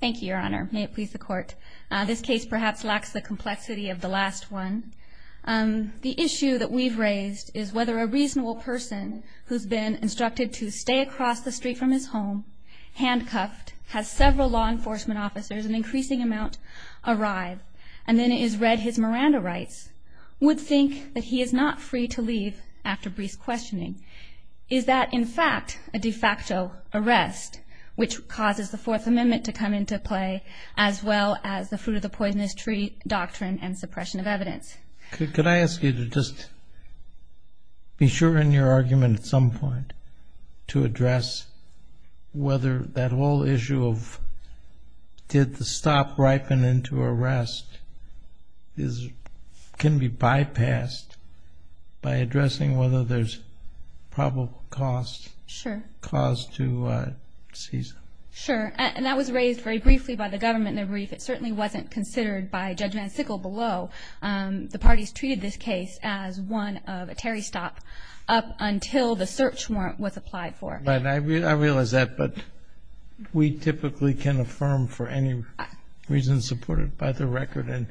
Thank you, Your Honor. May it please the Court. This case perhaps lacks the complexity of the last one. The issue that we've raised is whether a reasonable person who's been instructed to stay across the street from his home, handcuffed, has several law enforcement officers, an increasing amount, arrive, and then it is read his Miranda rights, would think that he is not free to leave after brief questioning. Is that, in fact, a de facto arrest, which causes the Fourth Amendment to come into play, as well as the fruit-of-the-poisonous-tree doctrine and suppression of evidence? Could I ask you to just be sure in your argument at some point to address whether that whole issue of, did the stop ripen into arrest, can be bypassed by addressing whether there's probable cause to seize him? Sure. And that was raised very briefly by the government in their brief. It certainly wasn't considered by Judge Van Sickle below. The parties treated this case as one of a Terry stop up until the search warrant was applied for. I realize that, but we typically can affirm for any reason supported by the record. And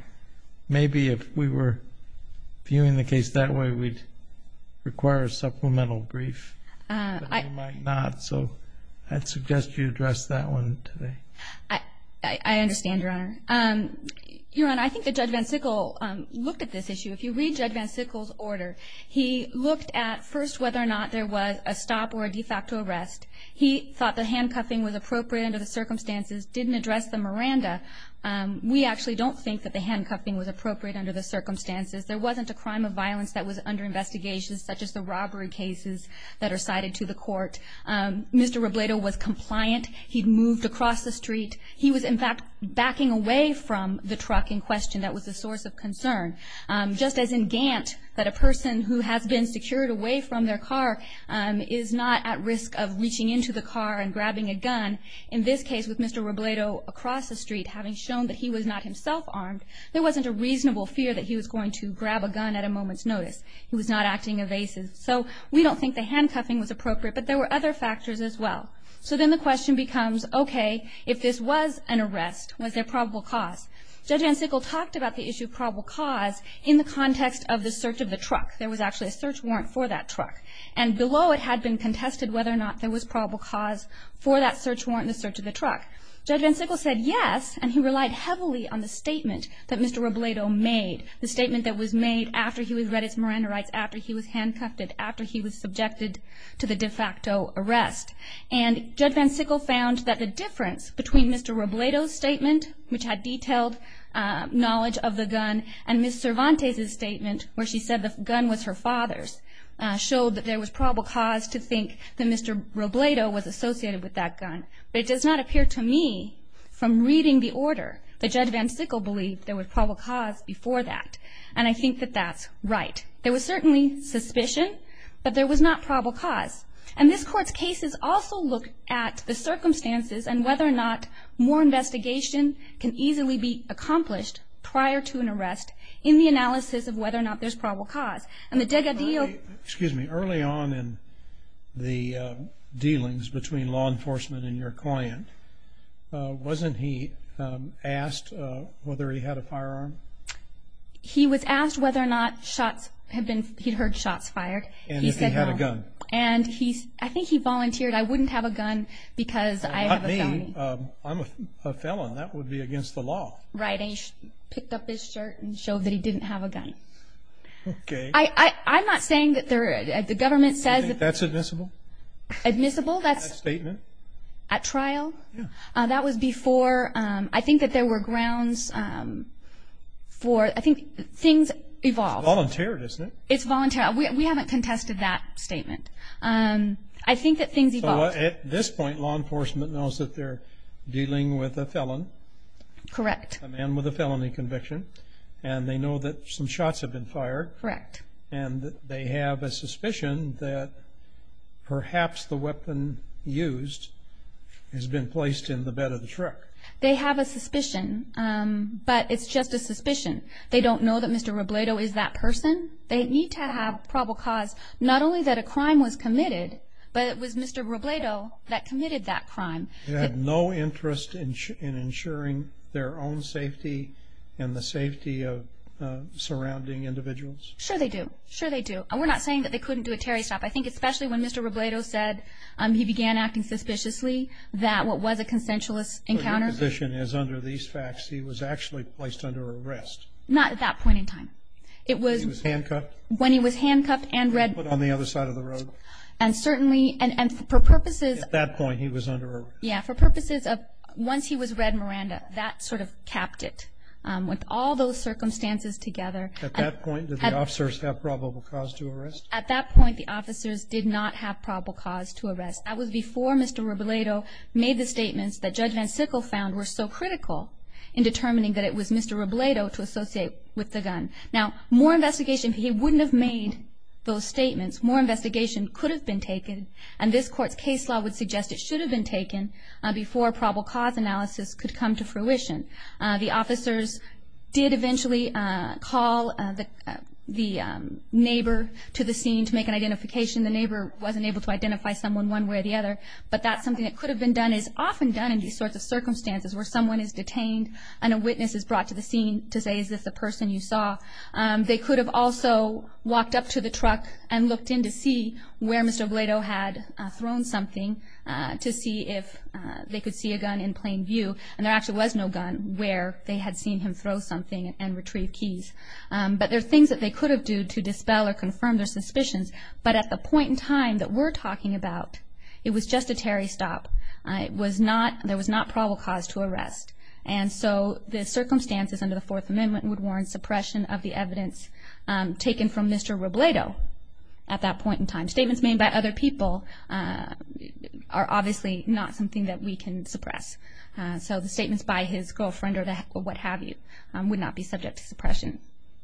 maybe if we were viewing the case that way, we'd require a supplemental brief. But we might not. So I'd suggest you address that one today. I understand, Your Honor. Your Honor, I think that Judge Van Sickle looked at this issue. If you read Judge Van Sickle's order, he looked at first whether or not there was a stop or a de facto arrest. He thought the handcuffing was appropriate under the circumstances, didn't address the Miranda. We actually don't think that the handcuffing was appropriate under the circumstances. There wasn't a crime of violence that was under investigation, such as the robbery cases that are cited to the court. Mr. Robledo was compliant. He'd moved across the street. He was, in fact, backing away from the truck in question. That was the source of concern. Just as in Gant, that a person who has been secured away from their car is not at risk of reaching into the car and grabbing a gun, in this case with Mr. Robledo across the street having shown that he was not himself armed, there wasn't a reasonable fear that he was going to grab a gun at a moment's notice. He was not acting evasive. So we don't think the handcuffing was appropriate, but there were other factors as well. So then the question becomes, okay, if this was an arrest, was there probable cause? Judge Van Sickle talked about the issue of probable cause in the context of the search of the truck. There was actually a search warrant for that truck. And below it had been contested whether or not there was probable cause for that search warrant and the search of the truck. Judge Van Sickle said yes, and he relied heavily on the statement that Mr. Robledo made, the statement that was made after he was read his Miranda rights, after he was handcuffed, after he was subjected to the de facto arrest. And Judge Van Sickle found that the difference between Mr. Robledo's statement, which had detailed knowledge of the gun, and Ms. Cervantes' statement where she said the gun was her father's, showed that there was probable cause to think that Mr. Robledo was associated with that gun. But it does not appear to me from reading the order that Judge Van Sickle believed there was probable cause before that. And I think that that's right. There was certainly suspicion, but there was not probable cause. And this Court's cases also look at the circumstances and whether or not more investigation can easily be accomplished prior to an arrest in the analysis of whether or not there's probable cause. And the Dega deal- Excuse me. Early on in the dealings between law enforcement and your client, wasn't he asked whether he had a firearm? He was asked whether or not shots had been- he'd heard shots fired. And if he had a gun. And I think he volunteered, I wouldn't have a gun because I have a felony. Not me. I'm a felon. That would be against the law. Right. And he picked up his shirt and showed that he didn't have a gun. Okay. I'm not saying that the government says- Do you think that's admissible? Admissible? That statement. At trial? Yeah. That was before- I think that there were grounds for- I think things evolved. It's voluntary, isn't it? It's voluntary. We haven't contested that statement. I think that things evolved. So at this point, law enforcement knows that they're dealing with a felon. Correct. A man with a felony conviction. And they know that some shots have been fired. Correct. And they have a suspicion that perhaps the weapon used has been placed in the bed of the truck. They have a suspicion, but it's just a suspicion. They don't know that Mr. Robledo is that person. They need to have probable cause. Not only that a crime was committed, but it was Mr. Robledo that committed that crime. They have no interest in ensuring their own safety and the safety of surrounding individuals? Sure they do. Sure they do. And we're not saying that they couldn't do a Terry stop. I think especially when Mr. Robledo said he began acting suspiciously, that what was a consensualist encounter- But your position is under these facts, he was actually placed under arrest. Not at that point in time. It was- He was handcuffed? When he was handcuffed and read- And put on the other side of the road? And certainly- and for purposes- At that point, he was under arrest. Yeah. For purposes of- once he was read Miranda, that sort of capped it. With all those circumstances together- At that point, did the officers have probable cause to arrest? At that point, the officers did not have probable cause to arrest. That was before Mr. Robledo made the statements that Judge Van Sickle found were so critical in determining that it was Mr. Robledo to associate with the gun. Now, more investigation- he wouldn't have made those statements. More investigation could have been taken, and this Court's case law would suggest it should have been taken before probable cause analysis could come to fruition. The officers did eventually call the neighbor to the scene to make an identification. The neighbor wasn't able to identify someone one way or the other, but that's something that could have been done- is often done in these sorts of circumstances where someone is detained and a witness is brought to the scene to say, is this the person you saw? They could have also walked up to the truck and looked in to see where Mr. Robledo had thrown something to see if they could see a gun in plain view. And there actually was no gun where they had seen him throw something and retrieve keys. But there are things that they could have done to dispel or confirm their suspicions. But at the point in time that we're talking about, it was just a Terry stop. There was not probable cause to arrest. And so the circumstances under the Fourth Amendment would warrant suppression of the evidence taken from Mr. Robledo at that point in time. Statements made by other people are obviously not something that we can suppress. So the statements by his girlfriend or what have you would not be subject to suppression.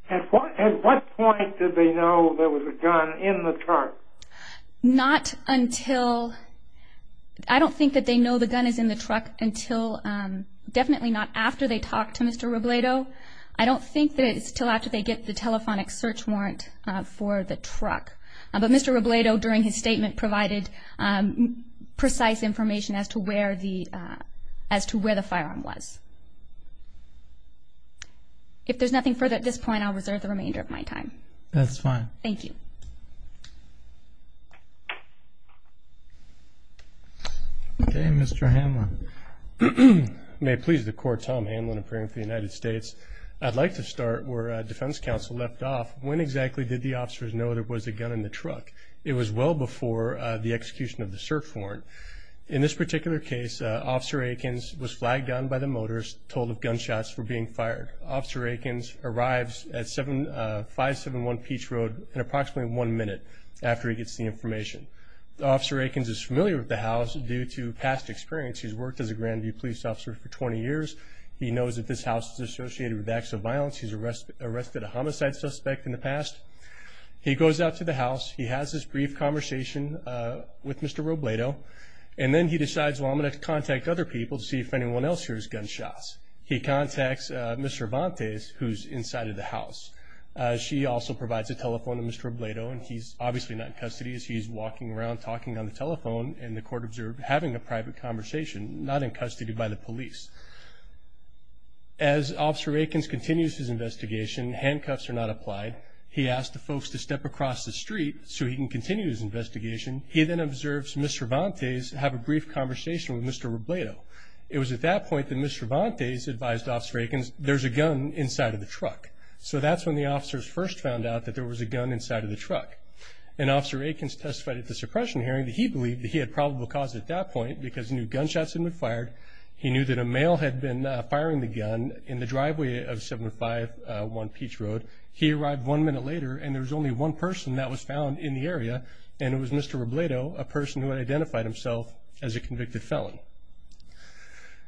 At what point did they know there was a gun in the truck? Not until- I don't think that they know the gun is in the truck until- definitely not after they talk to Mr. Robledo. I don't think that it's until after they get the telephonic search warrant for the truck. But Mr. Robledo, during his statement, provided precise information as to where the firearm was. If there's nothing further at this point, I'll reserve the remainder of my time. That's fine. Thank you. Okay, Mr. Hamlin. May it please the Court, Tom Hamlin, appearing for the United States. I'd like to start where Defense Counsel left off. When exactly did the officers know there was a gun in the truck? It was well before the execution of the search warrant. In this particular case, Officer Aikens was flagged on by the motorist, told of gunshots for being fired. Officer Aikens arrives at 571 Peach Road in approximately one minute after he gets the information. Officer Aikens is familiar with the house due to past experience. He's worked as a Grandview police officer for 20 years. He knows that this house is associated with acts of violence. He's arrested a homicide suspect in the past. He goes out to the house. He has this brief conversation with Mr. Robledo, and then he decides, well, I'm going to contact other people to see if anyone else hears gunshots. He contacts Ms. Cervantes, who's inside of the house. She also provides a telephone to Mr. Robledo, and he's obviously not in custody. He's walking around talking on the telephone, and the court observed having a private conversation, not in custody by the police. As Officer Aikens continues his investigation, handcuffs are not applied. He asks the folks to step across the street so he can continue his investigation. He then observes Ms. Cervantes have a brief conversation with Mr. Robledo. It was at that point that Ms. Cervantes advised Officer Aikens there's a gun inside of the truck. So that's when the officers first found out that there was a gun inside of the truck. And Officer Aikens testified at the suppression hearing that he believed that he had probable cause at that point because he knew gunshots had been fired. He knew that a male had been firing the gun in the driveway of 751 Peach Road. He arrived one minute later, and there was only one person that was found in the area, and it was Mr. Robledo, a person who had identified himself as a convicted felon.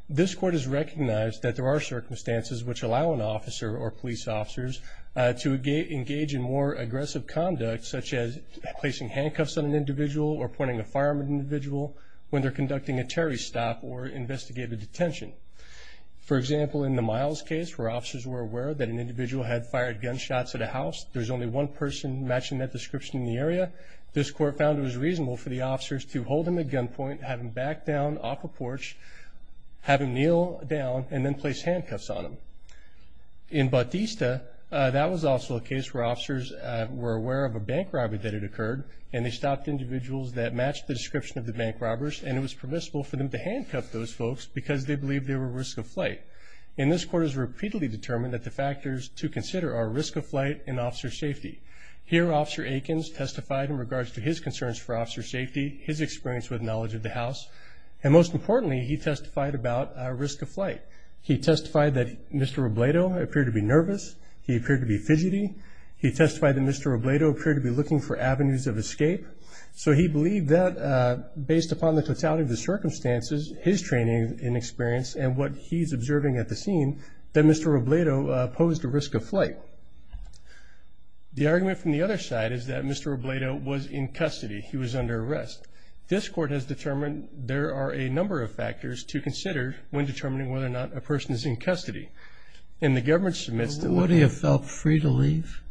This court has recognized that there are circumstances which allow an officer or police officers to engage in more aggressive conduct, such as placing handcuffs on an individual or pointing a firearm at an individual when they're conducting a terrorist stop or investigative detention. For example, in the Miles case where officers were aware that an individual had fired gunshots at a house, there was only one person matching that description in the area, this court found it was reasonable for the officers to hold him at gunpoint, have him back down off a porch, have him kneel down, and then place handcuffs on him. In Batista, that was also a case where officers were aware of a bank robbery that had occurred, and they stopped individuals that matched the description of the bank robbers, and it was permissible for them to handcuff those folks because they believed they were at risk of flight. And this court has repeatedly determined that the factors to consider are risk of flight and officer safety. Here, Officer Aikens testified in regards to his concerns for officer safety, his experience with knowledge of the house, and most importantly, he testified about risk of flight. He testified that Mr. Robledo appeared to be nervous. He appeared to be fidgety. He testified that Mr. Robledo appeared to be looking for avenues of escape. So he believed that based upon the totality of the circumstances, his training and experience, and what he's observing at the scene, that Mr. Robledo posed a risk of flight. The argument from the other side is that Mr. Robledo was in custody. He was under arrest. This court has determined there are a number of factors to consider when determining whether or not a person is in custody. And the government submits to the court. Would he have felt free to leave?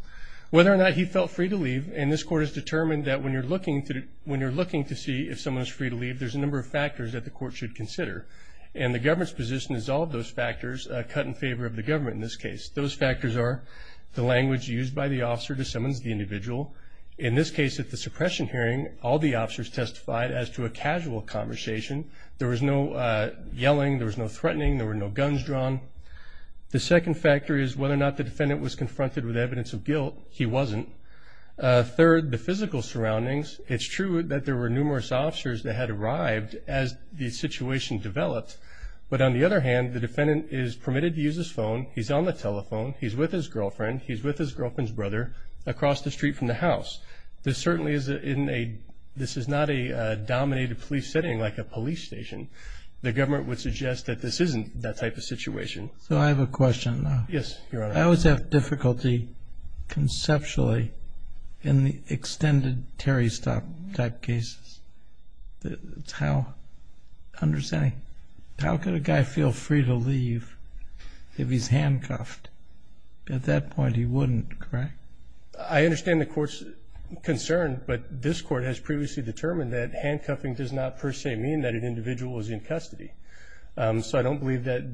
Whether or not he felt free to leave, and this court has determined that when you're looking to see if someone is free to leave, there's a number of factors that the court should consider. And the government's position is all of those factors cut in favor of the government in this case. Those factors are the language used by the officer to summons the individual. In this case, at the suppression hearing, all the officers testified as to a casual conversation. There was no yelling. There was no threatening. There were no guns drawn. The second factor is whether or not the defendant was confronted with evidence of guilt. He wasn't. Third, the physical surroundings. It's true that there were numerous officers that had arrived as the situation developed. But on the other hand, the defendant is permitted to use his phone. He's on the telephone. He's with his girlfriend. He's with his girlfriend's brother across the street from the house. This certainly is not a dominated police setting like a police station. The government would suggest that this isn't that type of situation. So I have a question. Yes, Your Honor. I always have difficulty conceptually in the extended Terry stop type cases. It's how, understanding, how could a guy feel free to leave if he's handcuffed? At that point, he wouldn't, correct? I understand the court's concern, but this court has previously determined that handcuffing does not per se mean that an individual is in custody. So I don't believe that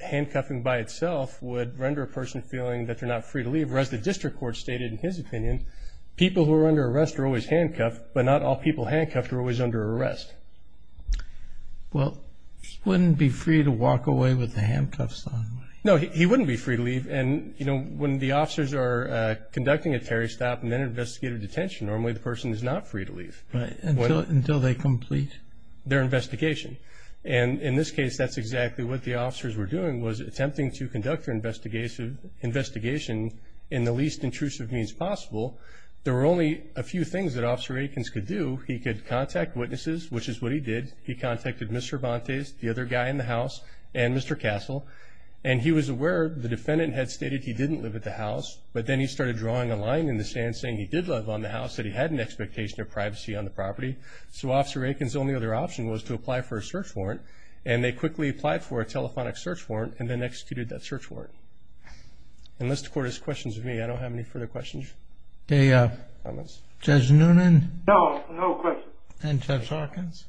handcuffing by itself would render a person feeling that they're not free to leave, whereas the district court stated in his opinion people who are under arrest are always handcuffed, but not all people handcuffed are always under arrest. Well, he wouldn't be free to walk away with the handcuffs on. No, he wouldn't be free to leave. And, you know, when the officers are conducting a Terry stop and then investigate a detention, normally the person is not free to leave. Until they complete? Their investigation. And in this case, that's exactly what the officers were doing was attempting to conduct their investigation in the least intrusive means possible. There were only a few things that Officer Eakins could do. He could contact witnesses, which is what he did. He contacted Mr. Bontes, the other guy in the house, and Mr. Castle, and he was aware the defendant had stated he didn't live at the house, but then he started drawing a line in the sand saying he did live on the house, that he had an expectation of privacy on the property. So Officer Eakins' only other option was to apply for a search warrant, and they quickly applied for a telephonic search warrant and then executed that search warrant. And the court has questions of me. I don't have any further questions. Judge Noonan? No, no questions. And Judge Hawkins?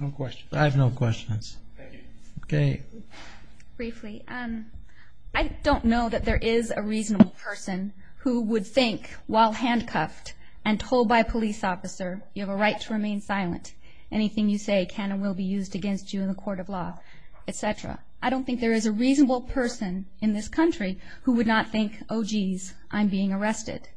No questions. I have no questions. Thank you. Okay. Briefly, I don't know that there is a reasonable person who would think while handcuffed and told by a police officer, you have a right to remain silent, anything you say can and will be used against you in the court of law, et cetera. I don't think there is a reasonable person in this country who would not think, oh, jeez, I'm being arrested.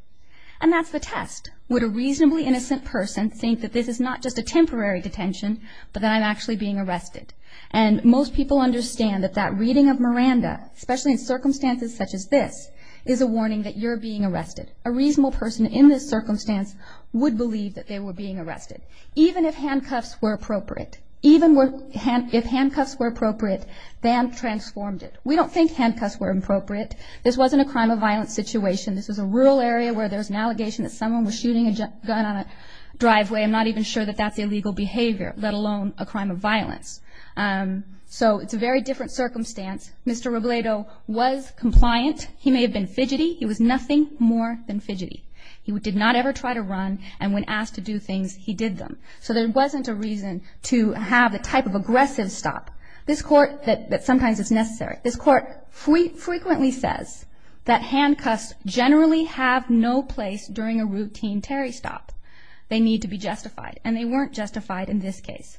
And that's the test. Would a reasonably innocent person think that this is not just a temporary detention, but that I'm actually being arrested? And most people understand that that reading of Miranda, especially in circumstances such as this, is a warning that you're being arrested. A reasonable person in this circumstance would believe that they were being arrested. Even if handcuffs were appropriate, even if handcuffs were appropriate, BAM transformed it. We don't think handcuffs were appropriate. This wasn't a crime of violence situation. This was a rural area where there was an allegation that someone was shooting a gun on a driveway. I'm not even sure that that's illegal behavior, let alone a crime of violence. So it's a very different circumstance. Mr. Robledo was compliant. He may have been fidgety. He was nothing more than fidgety. He did not ever try to run, and when asked to do things, he did them. So there wasn't a reason to have the type of aggressive stop that sometimes is necessary. This court frequently says that handcuffs generally have no place during a routine Terry stop. They need to be justified, and they weren't justified in this case.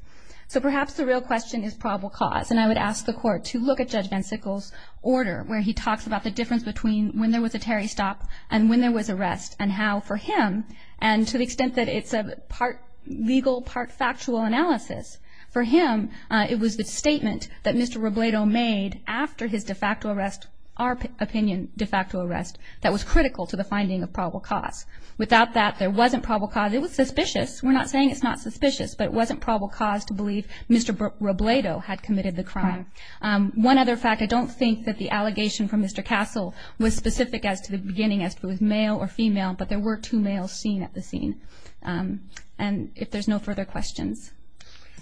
So perhaps the real question is probable cause, and I would ask the Court to look at Judge Van Sickle's order where he talks about the difference between when there was a Terry stop and when there was arrest and how, for him, and to the extent that it's a part legal, part factual analysis, for him it was the statement that Mr. Robledo made after his de facto arrest, our opinion de facto arrest, that was critical to the finding of probable cause. Without that, there wasn't probable cause. It was suspicious. We're not saying it's not suspicious, but it wasn't probable cause to believe Mr. Robledo had committed the crime. One other fact, I don't think that the allegation from Mr. Castle was specific as to the beginning, as to if it was male or female, but there were two males seen at the scene. And if there's no further questions.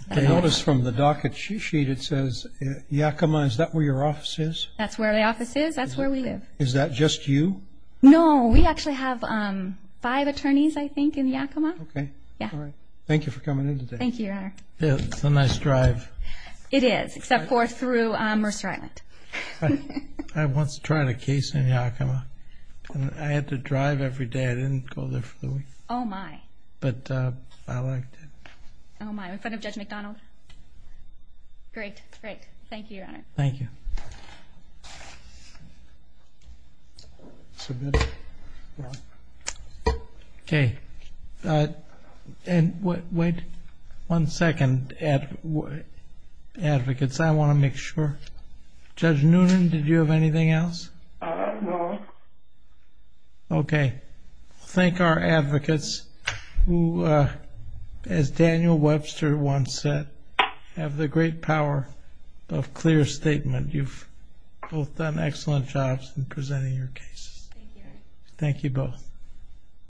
I notice from the docket sheet it says, Yakima, is that where your office is? That's where the office is. That's where we live. Is that just you? No. We actually have five attorneys, I think, in Yakima. Okay. All right. Thank you for coming in today. Thank you, Your Honor. It's a nice drive. It is, except for through Mercer Island. I once tried a case in Yakima. I had to drive every day. I didn't go there for the week. Oh, my. But I liked it. Oh, my. In front of Judge McDonald? Great. Great. Thank you, Your Honor. Thank you. Submit. Okay. And wait one second, advocates. I want to make sure. Judge Noonan, did you have anything else? No. Okay. Thank our advocates who, as Daniel Webster once said, have the great power of clear statement. You've both done excellent jobs in presenting your cases. Thank you. Thank you both.